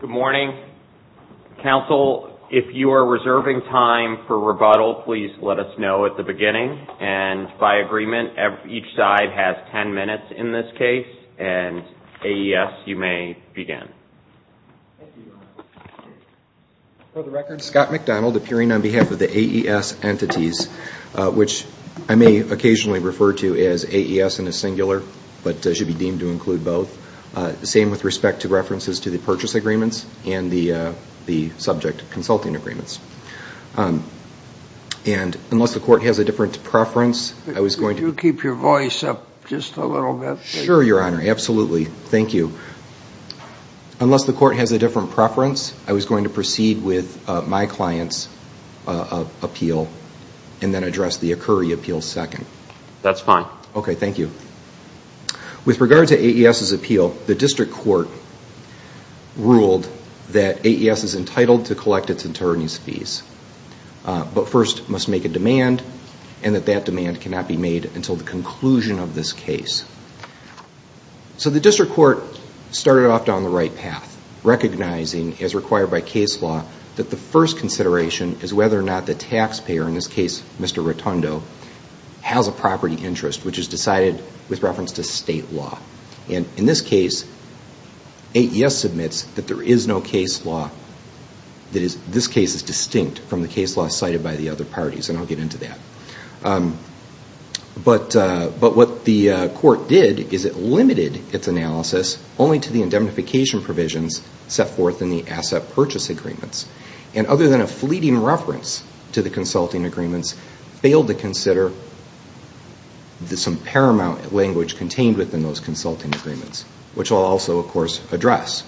Good morning. Council, if you are reserving time for rebuttal, please let us know at the beginning. And by agreement, each side has ten minutes in this case, and AES, you may begin. For the record, Scott McDonald, appearing on behalf of the AES entities, which I may occasionally refer to as AES in a singular, but should be deemed to include both, same with respect to references to the purchase agreements and the subject consulting agreements. And unless the court has a different preference, I was going to... Could you keep your voice up just a little bit? Sure, Your Honor. Absolutely. Thank you. Unless the court has a different preference, I was going to proceed with my client's appeal and then address the ACURI appeal second. That's fine. Okay, thank you. With regard to AES's appeal, the district court ruled that AES is entitled to collect its attorney's fees, but first must make a demand and that that demand cannot be made until the conclusion of this case. So the district court started off down the right path, recognizing, as required by case law, that the first consideration is whether or not the taxpayer, in this case Mr. Rotondo, has a property interest, which is decided with reference to state law. And in this case, AES submits that there is no case law that is... This case is distinct from the case law cited by the other parties, and I'll get into that. But what the court did is it limited its analysis only to the indemnification provisions set forth in the asset purchase agreements. And other than a fleeting reference to the consulting agreements, failed to consider some paramount language contained within those consulting agreements, which I'll also, of course, address.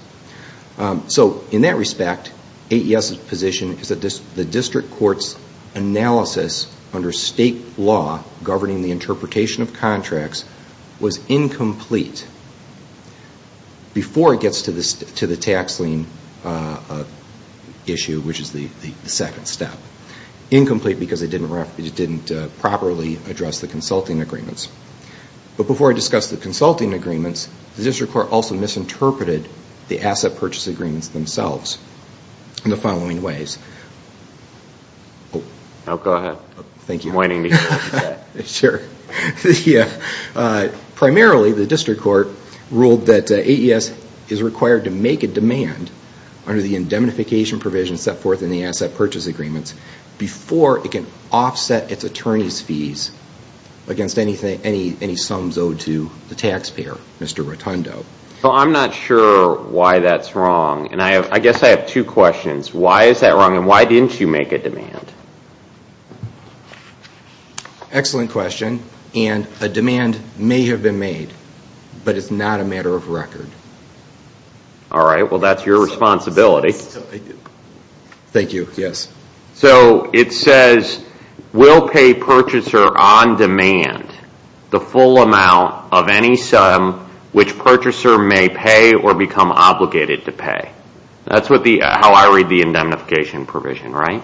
So in that respect, AES's position is that the district court's analysis under state law, governing the interpretation of contracts, was incomplete before it gets to the tax lien issue, which is the second step. Incomplete because it didn't properly address the consulting agreements. But before I discuss the consulting agreements, the district court also misinterpreted the asset purchase agreements themselves in the following ways. Oh, go ahead. Thank you. I'm waiting to hear. Sure. Primarily, the district court ruled that AES is required to make a demand under the indemnification provisions set forth in the asset purchase agreements before it can offset its attorney's fees against any sums owed to the taxpayer, Mr. Rotundo. Well, I'm not sure why that's wrong. And I guess I have two questions. Why is that wrong, and why didn't you make a demand? Excellent question. And a demand may have been made, but it's not a matter of record. All right. Well, that's your responsibility. Thank you. Yes. So it says, will pay purchaser on demand the full amount of any sum which purchaser may pay or become obligated to pay. That's how I read the indemnification provision, right?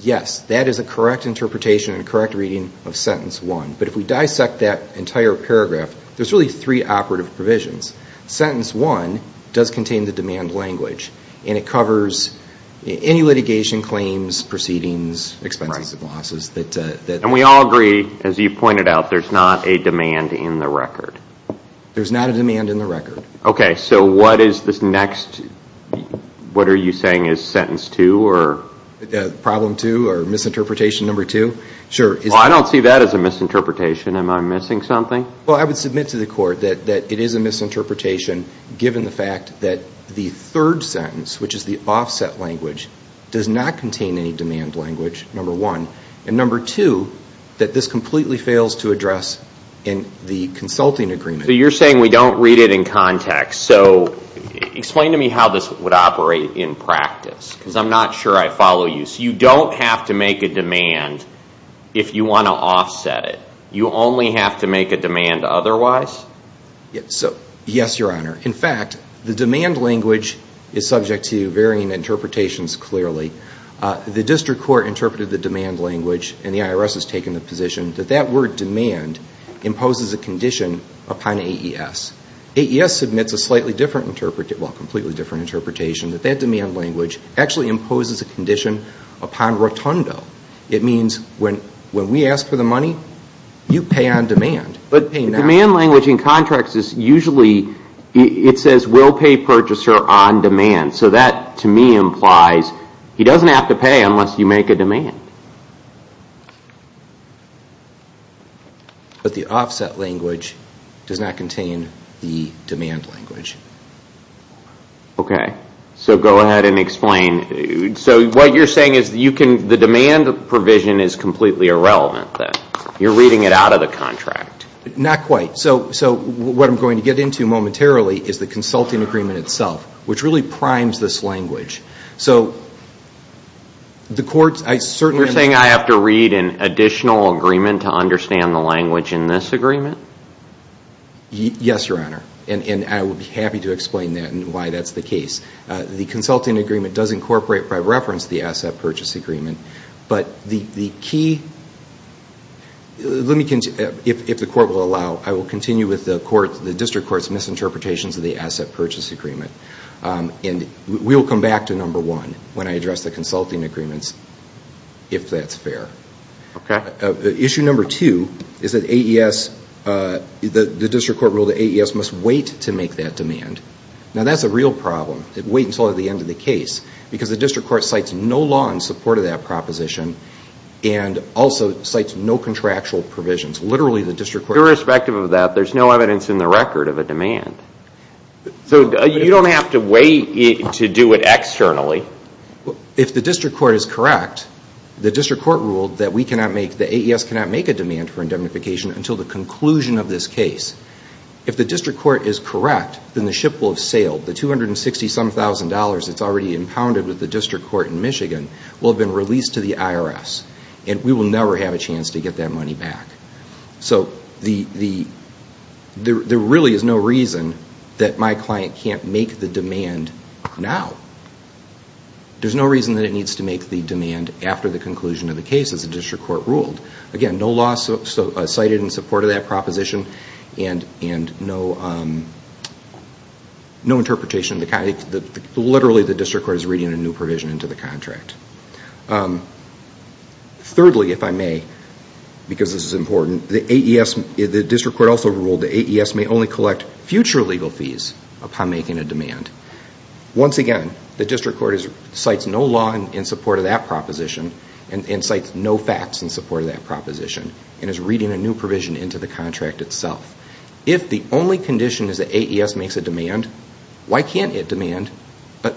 Yes. That is a correct interpretation and a correct reading of sentence one. But if we dissect that entire paragraph, there's really three operative provisions. Sentence one does contain the demand language, and it covers any litigation claims, proceedings, expenses, and losses. And we all agree, as you pointed out, there's not a demand in the record. There's not a demand in the record. Okay. So what is this next? What are you saying is sentence two or? Problem two or misinterpretation number two? Sure. Well, I don't see that as a misinterpretation. Am I missing something? Well, I would submit to the court that it is a misinterpretation, given the fact that the third sentence, which is the offset language, does not contain any demand language, number one. And number two, that this completely fails to address in the consulting agreement. So you're saying we don't read it in context. So explain to me how this would operate in practice, because I'm not sure I follow you. So you don't have to make a demand if you want to offset it. You only have to make a demand otherwise? Yes, Your Honor. In fact, the demand language is subject to varying interpretations clearly. The district court interpreted the demand language, and the IRS has taken the position, that that word demand imposes a condition upon AES. AES submits a slightly different, well, completely different interpretation, that that demand language actually imposes a condition upon rotundo. It means when we ask for the money, you pay on demand, but pay not. The demand language in contracts is usually, it says, will pay purchaser on demand. So that, to me, implies he doesn't have to pay unless you make a demand. But the offset language does not contain the demand language. Okay. So go ahead and explain. So what you're saying is the demand provision is completely irrelevant then. You're reading it out of the contract. Not quite. So what I'm going to get into momentarily is the consulting agreement itself, which really primes this language. So the courts, I certainly. You're saying I have to read an additional agreement to understand the language in this agreement? Yes, Your Honor. And I would be happy to explain that and why that's the case. The consulting agreement does incorporate, by reference, the asset purchase agreement. But the key, let me, if the court will allow, I will continue with the district court's misinterpretations of the asset purchase agreement. And we'll come back to number one when I address the consulting agreements, if that's fair. Okay. Issue number two is that AES, the district court ruled that AES must wait to make that demand. Now, that's a real problem, wait until the end of the case, because the district court cites no law in support of that proposition and also cites no contractual provisions. Literally, the district court. Irrespective of that, there's no evidence in the record of a demand. So you don't have to wait to do it externally? If the district court is correct, the district court ruled that we cannot make, that AES cannot make a demand for indemnification until the conclusion of this case. If the district court is correct, then the ship will have sailed. The $260-some-thousand that's already impounded with the district court in Michigan will have been released to the IRS, and we will never have a chance to get that money back. So there really is no reason that my client can't make the demand now. There's no reason that it needs to make the demand after the conclusion of the case, as the district court ruled. Again, no law cited in support of that proposition and no interpretation. Literally, the district court is reading a new provision into the contract. Thirdly, if I may, because this is important, the district court also ruled that AES may only collect future legal fees upon making a demand. Once again, the district court cites no law in support of that proposition and cites no facts in support of that proposition and is reading a new provision into the contract itself. If the only condition is that AES makes a demand, why can't it demand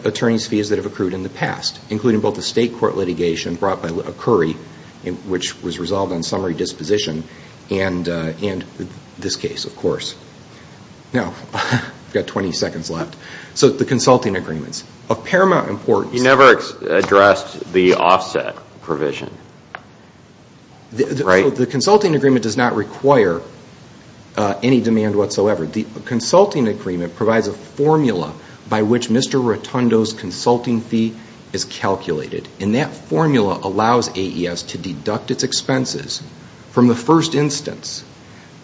attorneys' fees that have accrued in the past, including both the state court litigation brought by Curry, which was resolved on summary disposition, and this case, of course. Now, I've got 20 seconds left. So the consulting agreements, of paramount importance... You never addressed the offset provision, right? The consulting agreement does not require any demand whatsoever. The consulting agreement provides a formula by which Mr. Rotundo's consulting fee is calculated. And that formula allows AES to deduct its expenses from the first instance.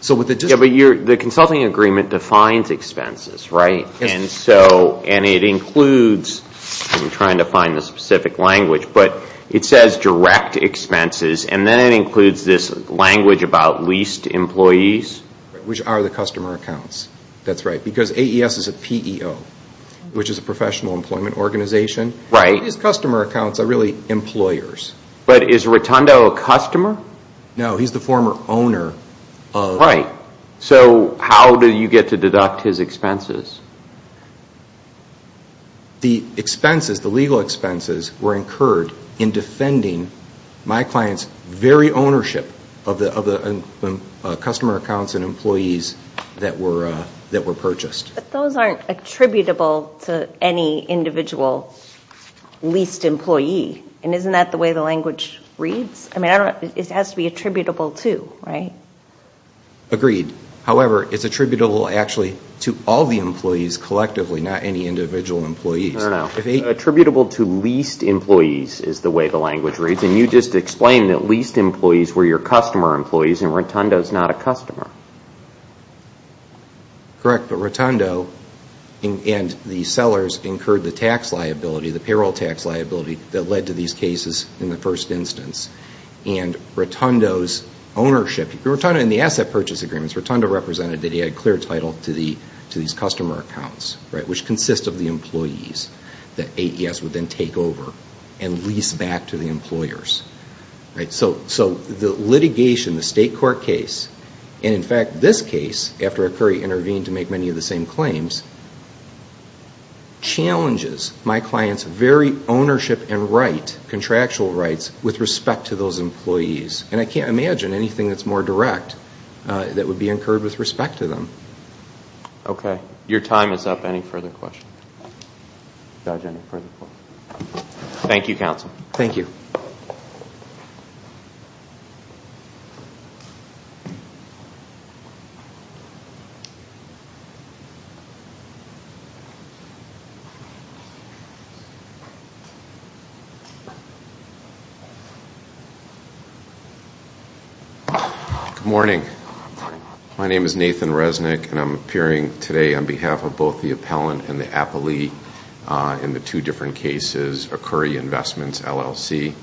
But the consulting agreement defines expenses, right? And it includes, I'm trying to find the specific language, but it says direct expenses, and then it includes this language about leased employees. Which are the customer accounts. That's right, because AES is a PEO, which is a professional employment organization. These customer accounts are really employers. But is Rotundo a customer? No, he's the former owner of... Right. So how do you get to deduct his expenses? The expenses, the legal expenses, were incurred in defending my client's very ownership of the customer accounts and employees that were purchased. But those aren't attributable to any individual leased employee. And isn't that the way the language reads? I mean, it has to be attributable to, right? Agreed. However, it's attributable actually to all the employees collectively, not any individual employees. No, no. Attributable to leased employees is the way the language reads. And you just explained that leased employees were your customer employees, and Rotundo's not a customer. Correct, but Rotundo and the sellers incurred the tax liability, the payroll tax liability, that led to these cases in the first instance. And Rotundo's ownership, in the asset purchase agreements, Rotundo represented that he had clear title to these customer accounts, which consist of the employees that AES would then take over and lease back to the employers. So the litigation, the state court case, and in fact this case, after a query intervened to make many of the same claims, challenges my client's very ownership and right, contractual rights, with respect to those employees. And I can't imagine anything that's more direct that would be incurred with respect to them. Okay. Your time is up. Any further questions? Judge, any further questions? Thank you, counsel. Thank you. Good morning. Good morning. My name is Nathan Resnick, and I'm appearing today on behalf of both the appellant and the appellee in the two different cases, a Curry Investments LLC,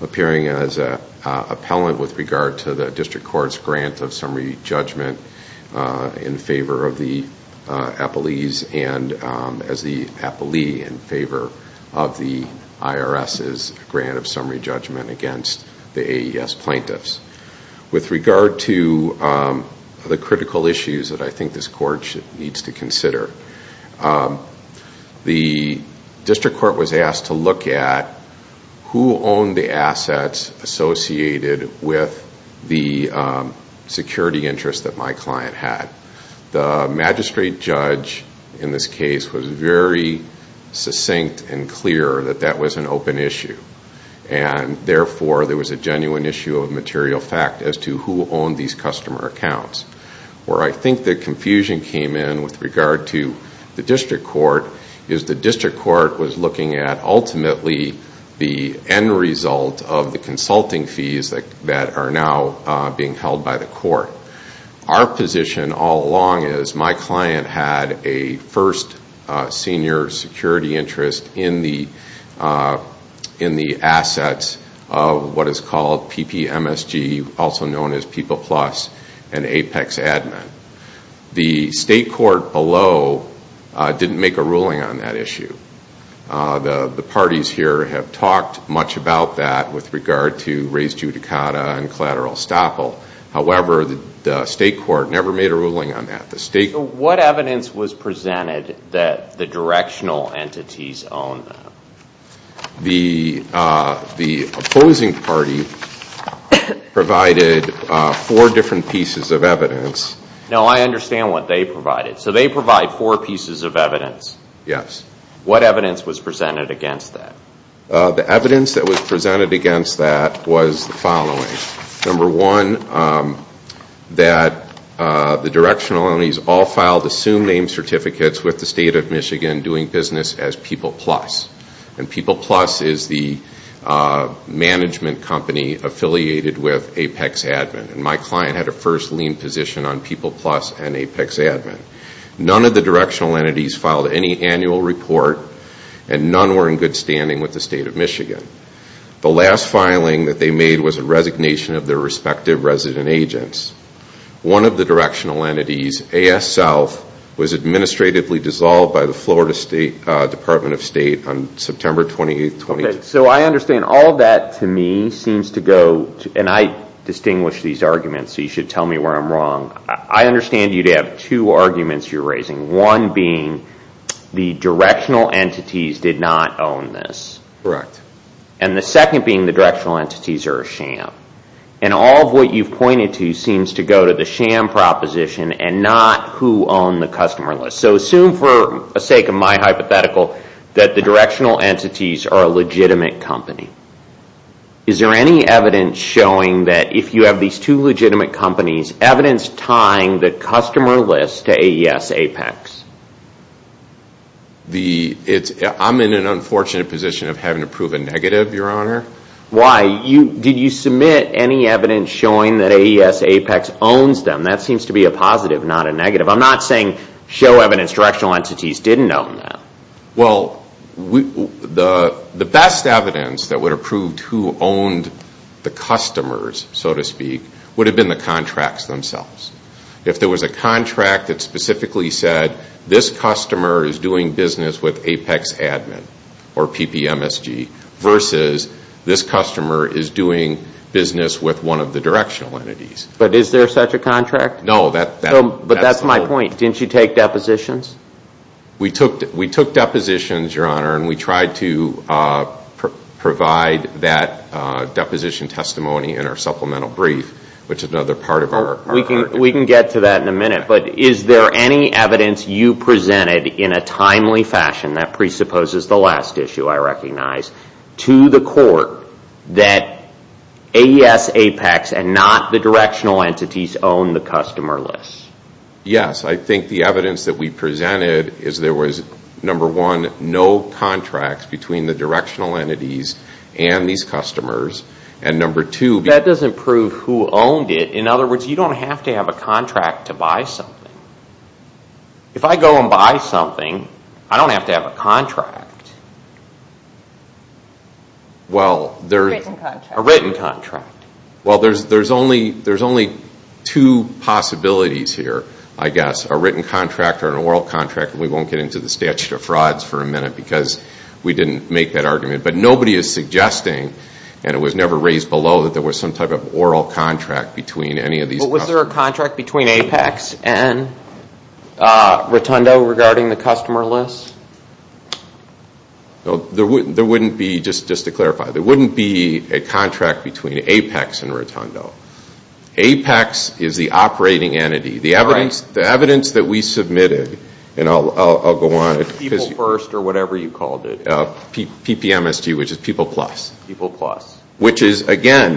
appearing as an appellant with regard to the district court's grant of summary judgment in favor of the appellees and as the appellee in favor of the IRS's grant of summary judgment against the AES plaintiffs. With regard to the critical issues that I think this court needs to consider, the district court was asked to look at who owned the assets associated with the security interests that my client had. The magistrate judge in this case was very succinct and clear that that was an open issue. Therefore, there was a genuine issue of material fact as to who owned these customer accounts. Where I think the confusion came in with regard to the district court is the district court was looking at ultimately the end result of the consulting fees that are now being held by the court. Our position all along is my client had a first senior security interest in the assets of what is called PPMSG, also known as People Plus, and Apex Admin. The state court below didn't make a ruling on that issue. The parties here have talked much about that with regard to Raise Judicata and collateral estoppel. However, the state court never made a ruling on that. What evidence was presented that the directional entities owned them? The opposing party provided four different pieces of evidence. No, I understand what they provided. So they provide four pieces of evidence? Yes. What evidence was presented against that? The evidence that was presented against that was the following. Number one, that the directional entities all filed assumed name certificates with the state of Michigan doing business as People Plus. People Plus is the management company affiliated with Apex Admin. My client had a first lien position on People Plus and Apex Admin. None of the directional entities filed any annual report The last filing that they made was a resignation of their respective resident agents. One of the directional entities, AS South, was administratively dissolved by the Florida State Department of State on September 28, 2012. So I understand all of that to me seems to go, and I distinguish these arguments so you should tell me where I'm wrong. I understand you'd have two arguments you're raising, one being the directional entities did not own this. Correct. And the second being the directional entities are a sham. And all of what you've pointed to seems to go to the sham proposition and not who owned the customer list. So assume, for the sake of my hypothetical, that the directional entities are a legitimate company. Is there any evidence showing that if you have these two legitimate companies, evidence tying the customer list to AES Apex? I'm in an unfortunate position of having to prove a negative, Your Honor. Why? Did you submit any evidence showing that AES Apex owns them? That seems to be a positive, not a negative. I'm not saying show evidence directional entities didn't own them. Well, the best evidence that would have proved who owned the customers, so to speak, would have been the contracts themselves. If there was a contract that specifically said, this customer is doing business with Apex Admin or PPMSG versus this customer is doing business with one of the directional entities. But is there such a contract? No. But that's my point. Didn't you take depositions? We took depositions, Your Honor, and we tried to provide that deposition testimony in our supplemental brief, which is another part of our contract. We can get to that in a minute. But is there any evidence you presented in a timely fashion, that presupposes the last issue I recognize, to the court that AES Apex and not the directional entities own the customer list? Yes. I think the evidence that we presented is there was, number one, no contracts between the directional entities and these customers. That doesn't prove who owned it. In other words, you don't have to have a contract to buy something. If I go and buy something, I don't have to have a contract. A written contract. A written contract. Well, there's only two possibilities here, I guess. A written contract or an oral contract, and we won't get into the statute of frauds for a minute because we didn't make that argument. But nobody is suggesting, and it was never raised below, that there was some type of oral contract between any of these customers. But was there a contract between Apex and Rotundo regarding the customer list? There wouldn't be, just to clarify, there wouldn't be a contract between Apex and Rotundo. Apex is the operating entity. The evidence that we submitted, and I'll go on. People First or whatever you called it. PPMSG, which is People Plus. People Plus. Which is, again,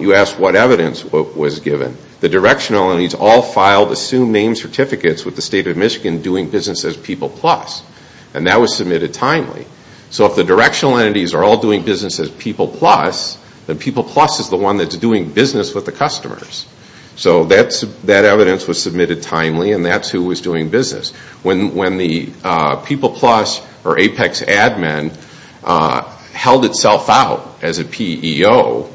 you asked what evidence was given. The directional entities all filed assumed name certificates with the State of Michigan doing business as People Plus. And that was submitted timely. So if the directional entities are all doing business as People Plus, then People Plus is the one that's doing business with the customers. So that evidence was submitted timely, and that's who was doing business. When the People Plus or Apex admin held itself out as a PEO,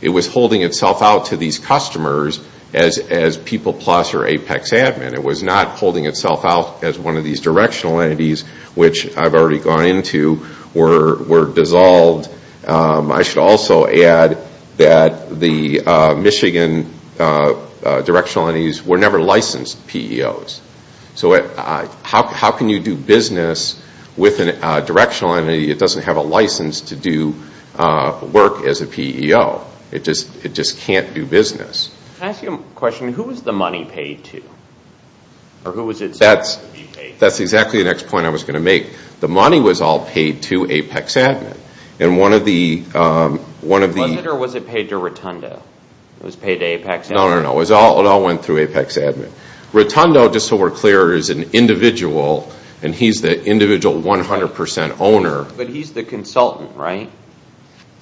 it was holding itself out to these customers as People Plus or Apex admin. It was not holding itself out as one of these directional entities, which I've already gone into, were dissolved. I should also add that the Michigan directional entities were never licensed PEOs. So how can you do business with a directional entity that doesn't have a license to do work as a PEO? It just can't do business. Can I ask you a question? Who was the money paid to? That's exactly the next point I was going to make. The money was all paid to Apex admin. Was it or was it paid to Rotundo? It was paid to Apex admin. No, it all went through Apex admin. Rotundo, just so we're clear, is an individual, and he's the individual 100% owner. But he's the consultant, right?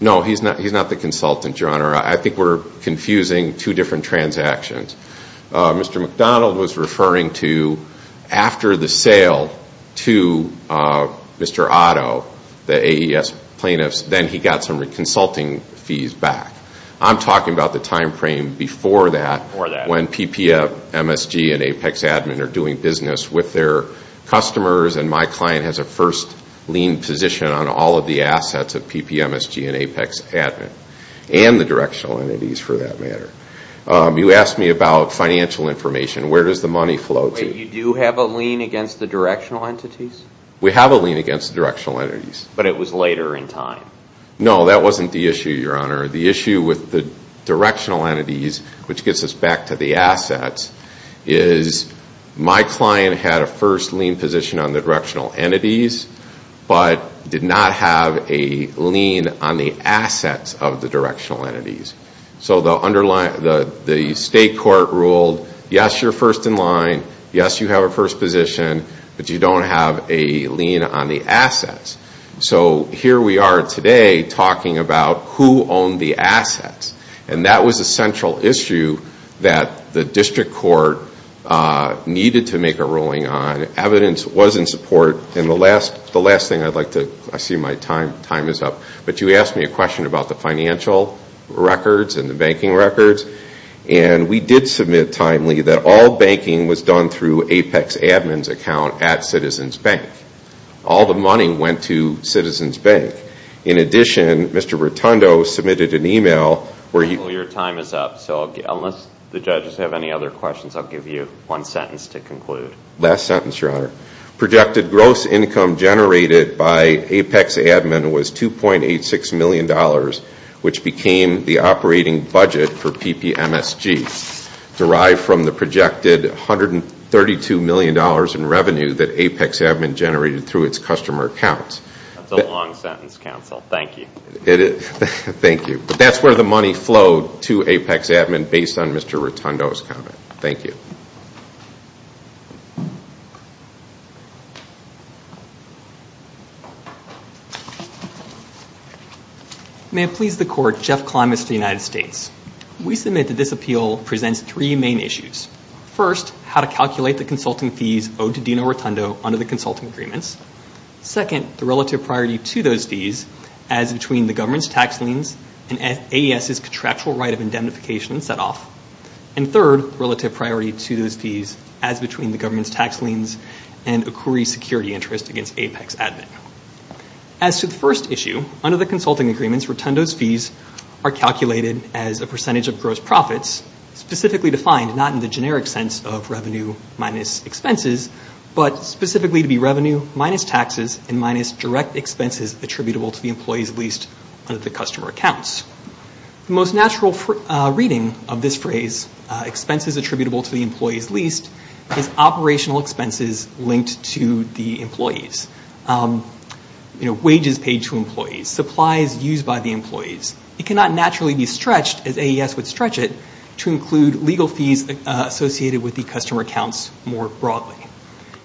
No, he's not the consultant, Your Honor. I think we're confusing two different transactions. Mr. McDonald was referring to after the sale to Mr. Otto, the AES plaintiffs, then he got some of the consulting fees back. I'm talking about the time frame before that when PPMSG and Apex admin are doing business with their customers and my client has a first lien position on all of the assets of PPMSG and Apex admin and the directional entities for that matter. You asked me about financial information. Where does the money flow to? Wait, you do have a lien against the directional entities? We have a lien against the directional entities. But it was later in time? No, that wasn't the issue, Your Honor. The issue with the directional entities, which gets us back to the assets, is my client had a first lien position on the directional entities but did not have a lien on the assets of the directional entities. So the state court ruled, yes, you're first in line, yes, you have a first position, but you don't have a lien on the assets. So here we are today talking about who owned the assets. And that was a central issue that the district court needed to make a ruling on. Evidence was in support. And the last thing I'd like to, I see my time is up, but you asked me a question about the financial records and the banking records. And we did submit timely that all banking was done through Apex admin's account at Citizens Bank. All the money went to Citizens Bank. In addition, Mr. Rotundo submitted an email where he Well, your time is up. So unless the judges have any other questions, I'll give you one sentence to conclude. Last sentence, Your Honor. Projected gross income generated by Apex admin was $2.86 million, which became the operating budget for PPMSG, derived from the projected $132 million in revenue that Apex admin generated through its customer accounts. That's a long sentence, counsel. Thank you. Thank you. But that's where the money flowed to Apex admin based on Mr. Rotundo's comment. Thank you. May it please the Court, Jeff Klimas to the United States. We submit that this appeal presents three main issues. First, how to calculate the consulting fees owed to Dino Rotundo under the consulting agreements. Second, the relative priority to those fees as between the government's tax liens and AES's contractual right of indemnification and set-off. And third, relative priority to those fees as between the government's tax liens and ACOURI's security interest against Apex admin. As to the first issue, under the consulting agreements, Rotundo's fees are calculated as a percentage of gross profits, specifically defined not in the generic sense of revenue minus expenses, but specifically to be revenue minus taxes and minus direct expenses attributable to the employees leased under the customer accounts. The most natural reading of this phrase, expenses attributable to the employees leased, is operational expenses linked to the employees. You know, wages paid to employees, supplies used by the employees. It cannot naturally be stretched, as AES would stretch it, to include legal fees associated with the customer accounts more broadly.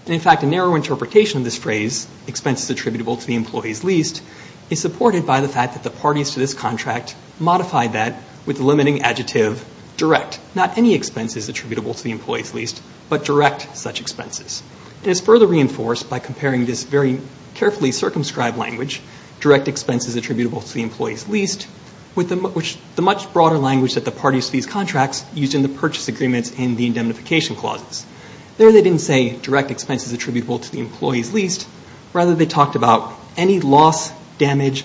And in fact, a narrow interpretation of this phrase, expenses attributable to the employees leased, is supported by the fact that the parties to this contract modified that with the limiting adjective direct. Not any expenses attributable to the employees leased, but direct such expenses. It is further reinforced by comparing this very carefully circumscribed language, direct expenses attributable to the employees leased, with the much broader language that the parties to these contracts used in the purchase agreements and the indemnification clauses. There they didn't say direct expenses attributable to the employees leased. Rather, they talked about any loss, damage,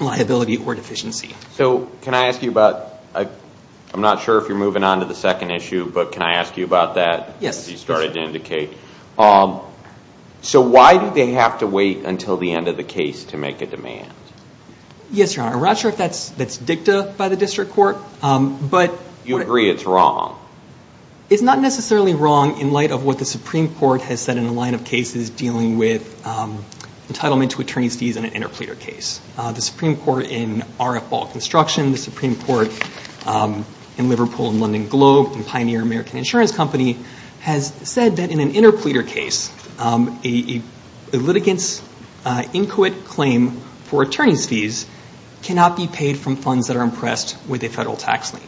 liability, or deficiency. So can I ask you about, I'm not sure if you're moving on to the second issue, but can I ask you about that? Yes. As you started to indicate. So why do they have to wait until the end of the case to make a demand? Yes, Your Honor. I'm not sure if that's dicta by the district court. You agree it's wrong. It's not necessarily wrong in light of what the Supreme Court has said in a line of cases dealing with entitlement to attorney's fees in an interpleader case. The Supreme Court in RF Ball Construction, the Supreme Court in Liverpool and London Globe, and Pioneer American Insurance Company has said that in an interpleader case, a litigant's inquit claim for attorney's fees cannot be paid from funds that are impressed with a federal tax lien.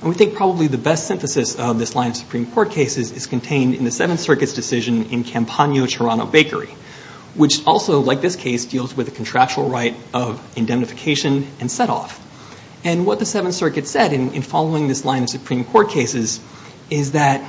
And we think probably the best synthesis of this line of Supreme Court cases is contained in the Seventh Circuit's decision in Campagno-Toronto Bakery, which also, like this case, deals with the contractual right of indemnification and set-off. And what the Seventh Circuit said in following this line of Supreme Court cases is that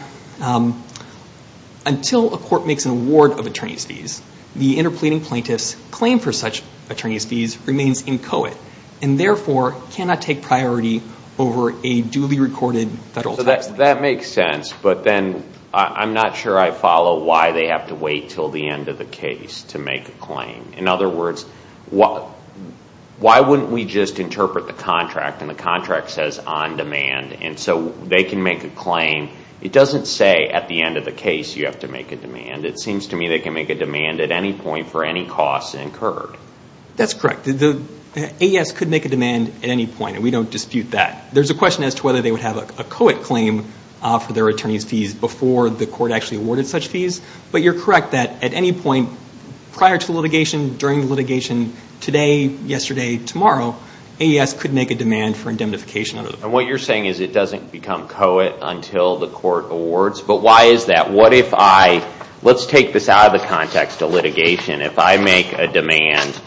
until a court makes an award of attorney's fees, the interpleading plaintiff's claim for such attorney's fees remains inchoate and therefore cannot take priority over a duly recorded federal tax lien. That makes sense, but then I'm not sure I follow why they have to wait until the end of the case to make a claim. In other words, why wouldn't we just interpret the contract, and the contract says on demand, and so they can make a claim. It doesn't say at the end of the case you have to make a demand. It seems to me they can make a demand at any point for any costs incurred. That's correct. The AES could make a demand at any point, and we don't dispute that. There's a question as to whether they would have a co-it claim for their attorney's fees before the court actually awarded such fees, but you're correct that at any point prior to litigation, during litigation, today, yesterday, tomorrow, AES could make a demand for indemnification. And what you're saying is it doesn't become co-it until the court awards? But why is that? What if I, let's take this out of the context of litigation. If I make a demand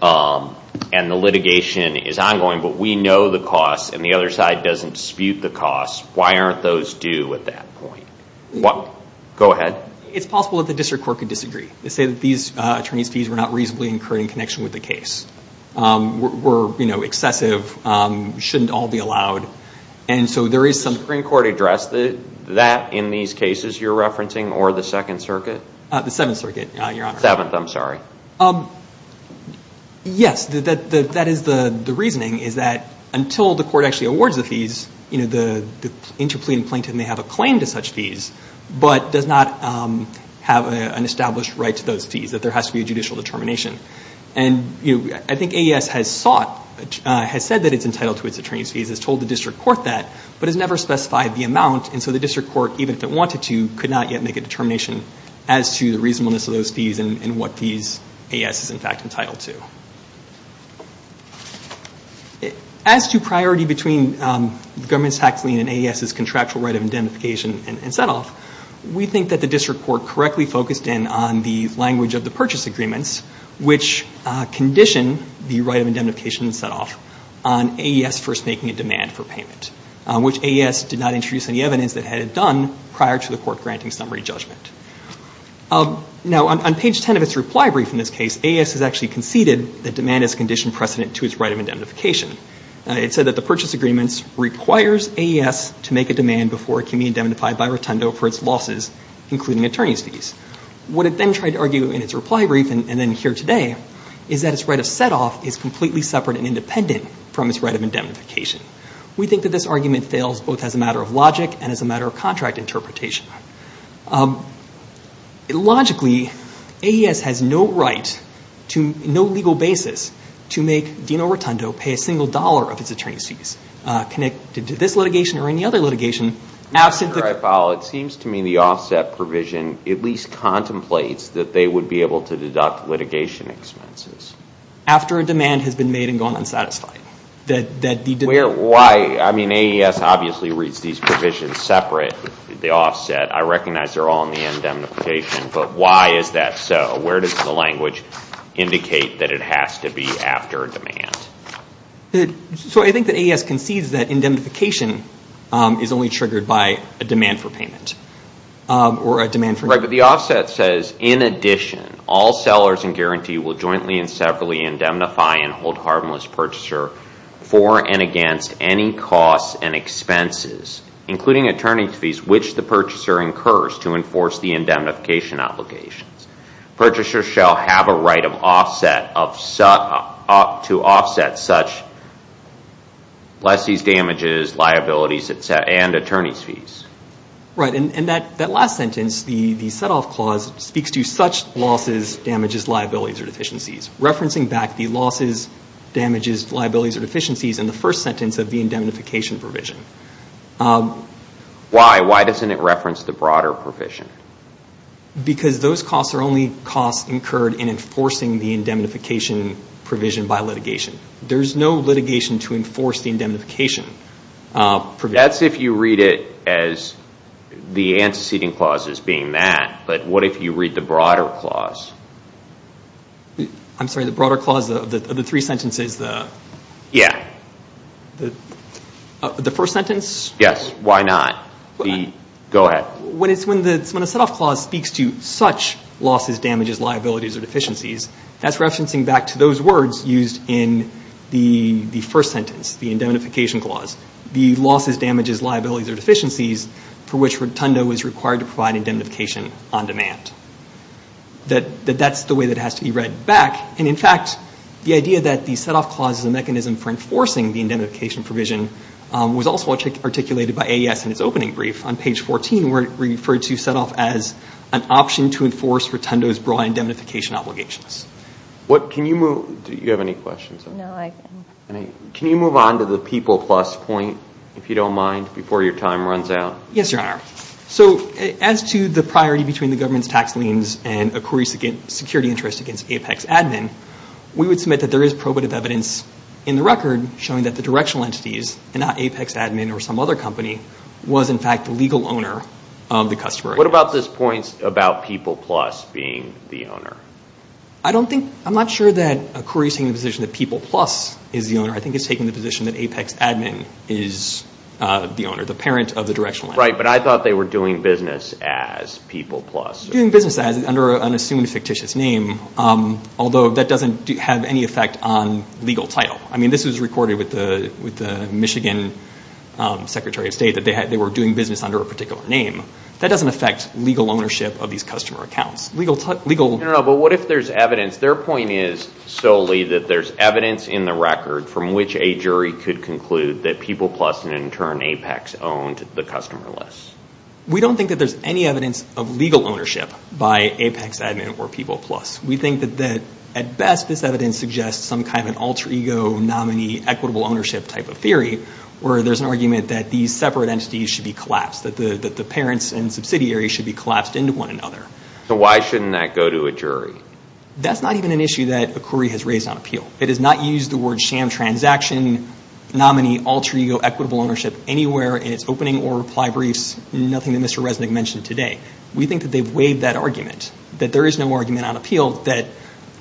and the litigation is ongoing, but we know the cost and the other side doesn't dispute the cost, why aren't those due at that point? Go ahead. It's possible that the district court could disagree. They say that these attorney's fees were not reasonably incurred in connection with the case, were excessive, shouldn't all be allowed, and so there is some Supreme Court address that in these cases you're referencing, or the Second Circuit? The Seventh Circuit, Your Honor. The Seventh, I'm sorry. Yes, that is the reasoning, is that until the court actually awards the fees, the interplea and plaintiff may have a claim to such fees, but does not have an established right to those fees, that there has to be a judicial determination. And I think AES has said that it's entitled to its attorney's fees, has told the district court that, but has never specified the amount, and so the district court, even if it wanted to, could not yet make a determination as to the reasonableness of those fees and what fees AES is in fact entitled to. As to priority between the government's tax lien and AES's contractual right of indemnification and setoff, we think that the district court correctly focused in on the language of the purchase agreements, which condition the right of indemnification and setoff on AES first making a demand for payment, which AES did not introduce any evidence that it had done prior to the court granting summary judgment. Now, on page 10 of its reply brief in this case, AES has actually conceded that demand has conditioned precedent to its right of indemnification. It said that the purchase agreements requires AES to make a demand before it can be indemnified by Rotundo for its losses, including attorney's fees. What it then tried to argue in its reply brief, and then here today, is that its right of setoff is completely separate and independent from its right of indemnification. We think that this argument fails both as a matter of logic and as a matter of contract interpretation. Logically, AES has no right to no legal basis to make Dino Rotundo pay a single dollar of its attorney's fees, connected to this litigation or any other litigation. Now, Senator Eiffel, it seems to me the offset provision at least contemplates that they would be able to deduct litigation expenses. After a demand has been made and gone unsatisfied. Why? I mean, AES obviously reads these provisions separate, the offset. I recognize they're all in the indemnification, but why is that so? Where does the language indicate that it has to be after a demand? So I think that AES concedes that indemnification is only triggered by a demand for payment. Right, but the offset says, In addition, all sellers in guarantee will jointly and severally indemnify and hold harmless purchaser for and against any costs and expenses, including attorney's fees, which the purchaser incurs to enforce the indemnification obligations. Purchaser shall have a right to offset such lessee's damages, liabilities, and attorney's fees. Right, and that last sentence, the set-off clause, speaks to such losses, damages, liabilities, or deficiencies. Referencing back the losses, damages, liabilities, or deficiencies in the first sentence of the indemnification provision. Why? Why doesn't it reference the broader provision? Because those costs are only costs incurred in enforcing the indemnification provision by litigation. There's no litigation to enforce the indemnification provision. That's if you read it as the antecedent clauses being that, but what if you read the broader clause? I'm sorry, the broader clause of the three sentences, the first sentence? Yes, why not? Go ahead. When a set-off clause speaks to such losses, damages, liabilities, or deficiencies, that's referencing back to those words used in the first sentence, the indemnification clause. The losses, damages, liabilities, or deficiencies for which Rotundo is required to provide indemnification on demand. That that's the way that it has to be read back, and in fact the idea that the set-off clause is a mechanism for enforcing the indemnification provision was also articulated by AES in its opening brief on page 14 where it referred to set-off as an option to enforce Rotundo's broad indemnification obligations. What, can you move, do you have any questions? No, I can. Can you move on to the People Plus point, if you don't mind, before your time runs out? Yes, Your Honor. So as to the priority between the government's tax liens and a query's security interest against Apex Admin, we would submit that there is probative evidence in the record showing that the directional entities, and not Apex Admin or some other company, was in fact the legal owner of the customer. What about this point about People Plus being the owner? I don't think, I'm not sure that a query is taking the position that People Plus is the owner. I think it's taking the position that Apex Admin is the owner, the parent of the directional entity. Right, but I thought they were doing business as People Plus. Doing business as, under an assumed fictitious name, although that doesn't have any effect on legal title. I mean, this was recorded with the Michigan Secretary of State that they were doing business under a particular name. That doesn't affect legal ownership of these customer accounts. No, but what if there's evidence? Their point is solely that there's evidence in the record from which a jury could conclude that People Plus and in turn Apex owned the customer lists. We don't think that there's any evidence of legal ownership by Apex Admin or People Plus. We think that at best this evidence suggests some kind of alter ego, nominee, equitable ownership type of theory, where there's an argument that these separate entities should be collapsed, that the parents and subsidiaries should be collapsed into one another. So why shouldn't that go to a jury? That's not even an issue that a query has raised on appeal. It has not used the word sham transaction, nominee, alter ego, equitable ownership anywhere in its opening or reply briefs, nothing that Mr. Resnick mentioned today. We think that they've waived that argument, that there is no argument on appeal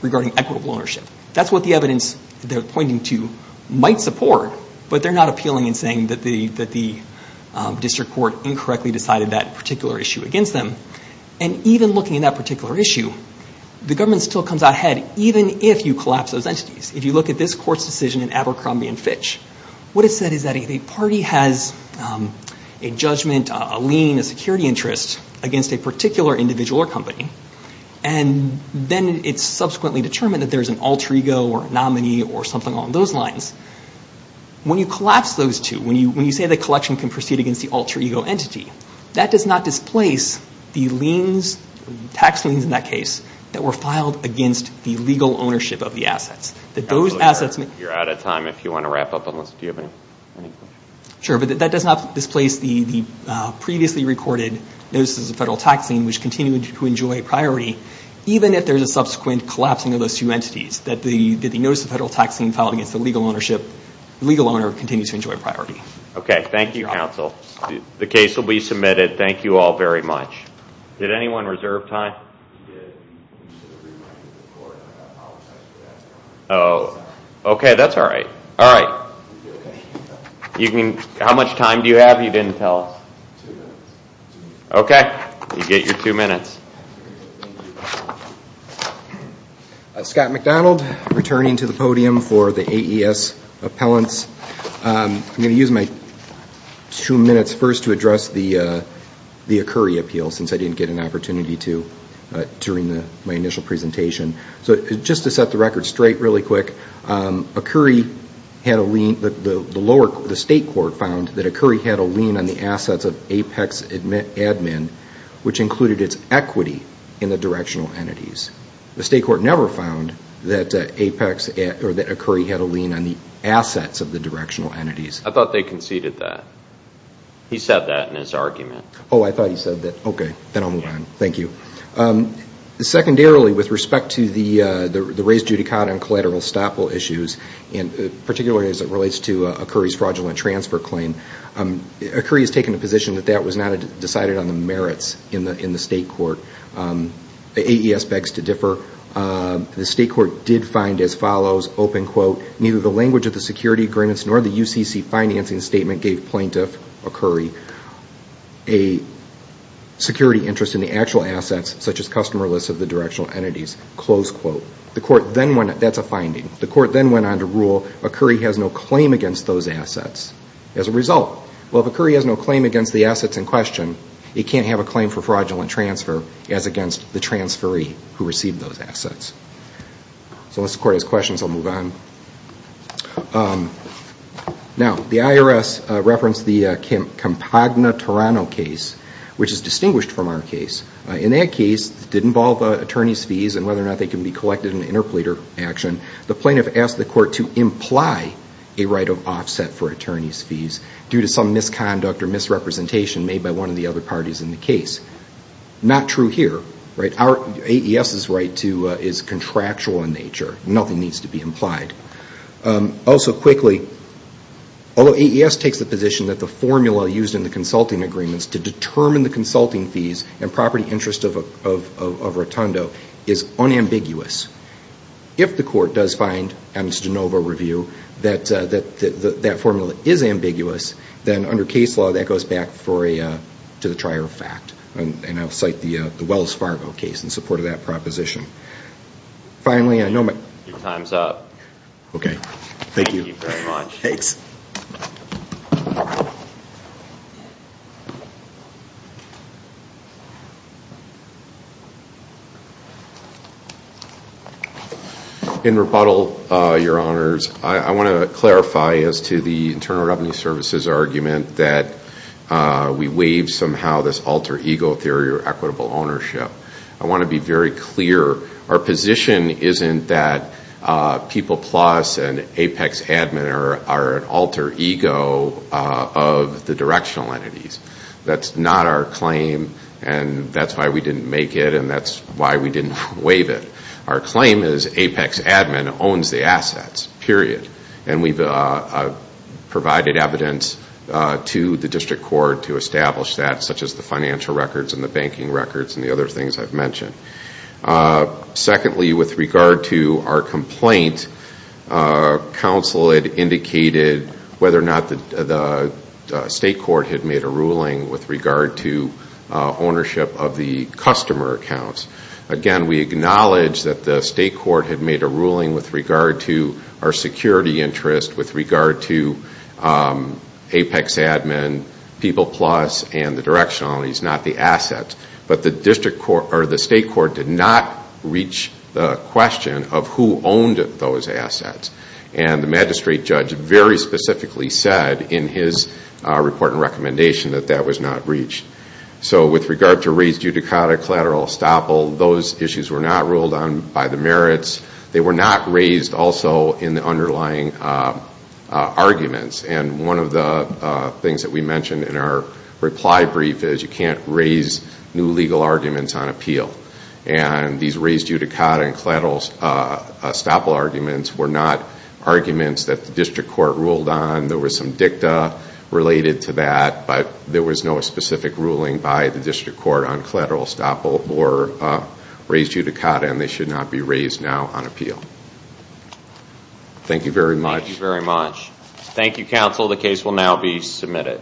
regarding equitable ownership. That's what the evidence they're pointing to might support, but they're not appealing and saying that the district court incorrectly decided that particular issue against them. And even looking at that particular issue, the government still comes out ahead even if you collapse those entities. If you look at this court's decision in Abercrombie and Fitch, what it said is that a party has a judgment, a lien, a security interest against a particular individual or company, and then it's subsequently determined that there's an alter ego or a nominee or something along those lines. When you collapse those two, when you say the collection can proceed against the alter ego entity, that does not displace the tax liens in that case that were filed against the legal ownership of the assets. You're out of time if you want to wrap up unless you have any questions. Sure, but that does not displace the previously recorded notices of federal tax lien which continue to enjoy priority even if there's a subsequent collapsing of those two entities, that the notice of federal tax lien filed against the legal ownership, legal owner, continues to enjoy priority. Okay, thank you, counsel. The case will be submitted. Thank you all very much. Did anyone reserve time? We did. We should have reminded the court. I apologize for that. Oh, okay. That's all right. All right. How much time do you have? You didn't tell us. Two minutes. Okay. You get your two minutes. Scott McDonald, returning to the podium for the AES appellants. I'm going to use my two minutes first to address the Akuri appeal since I didn't get an opportunity to during my initial presentation. Just to set the record straight really quick, the state court found that Akuri had a lien on the assets of Apex Admin, which included its equity in the directional entities. The state court never found that Akuri had a lien on the assets of the directional entities. I thought they conceded that. He said that in his argument. Oh, I thought he said that. Okay, then I'll move on. Thank you. Secondarily, with respect to the raised judicata and collateral estoppel issues, particularly as it relates to Akuri's fraudulent transfer claim, Akuri has taken a position that that was not decided on the merits in the state court. The AES begs to differ. The state court did find as follows, neither the language of the security agreements nor the UCC financing statement gave plaintiff Akuri a security interest in the actual assets, such as customer lists of the directional entities. That's a finding. The court then went on to rule Akuri has no claim against those assets. As a result, well, if Akuri has no claim against the assets in question, it can't have a claim for fraudulent transfer as against the transferee who received those assets. So unless the court has questions, I'll move on. Now, the IRS referenced the Campagna-Torano case, which is distinguished from our case. In that case, it did involve attorney's fees and whether or not they can be collected in interpleader action. due to some misconduct or misrepresentation made by one of the other parties in the case. Not true here. AES's right is contractual in nature. Nothing needs to be implied. Also quickly, although AES takes the position that the formula used in the consulting agreements to determine the consulting fees and property interest of Rotundo is unambiguous, if the court does find, on its de novo review, that that formula is ambiguous, then under case law, that goes back to the trier of fact. And I'll cite the Wells Fargo case in support of that proposition. Finally, I know my... Your time's up. Okay. Thank you. Thank you very much. Thanks. In rebuttal, Your Honors, I want to clarify as to the Internal Revenue Service's argument that we waive somehow this alter ego theory of equitable ownership. I want to be very clear. Our position isn't that People Plus and Apex Admin are an alter ego of the directional entities. That's not our claim, and that's why we didn't make it, and that's why we didn't waive it. Our claim is Apex Admin owns the assets, period. And we've provided evidence to the district court to establish that, such as the financial records and the banking records and the other things I've mentioned. Secondly, with regard to our complaint, counsel had indicated whether or not the state court had made a ruling with regard to ownership of the customer accounts. Again, we acknowledge that the state court had made a ruling with regard to our security interest, with regard to Apex Admin, People Plus, and the directional entities, not the assets. But the state court did not reach the question of who owned those assets. And the magistrate judge very specifically said in his report and recommendation that that was not reached. So with regard to raised judicata, collateral estoppel, those issues were not ruled on by the merits. They were not raised also in the underlying arguments. And one of the things that we mentioned in our reply brief is you can't raise new legal arguments on appeal. And these raised judicata and collateral estoppel arguments were not arguments that the district court ruled on. There was some dicta related to that, but there was no specific ruling by the district court on collateral estoppel or raised judicata, and they should not be raised now on appeal. Thank you very much. Thank you very much. Thank you, counsel. The case will now be submitted.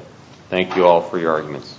Thank you all for your arguments.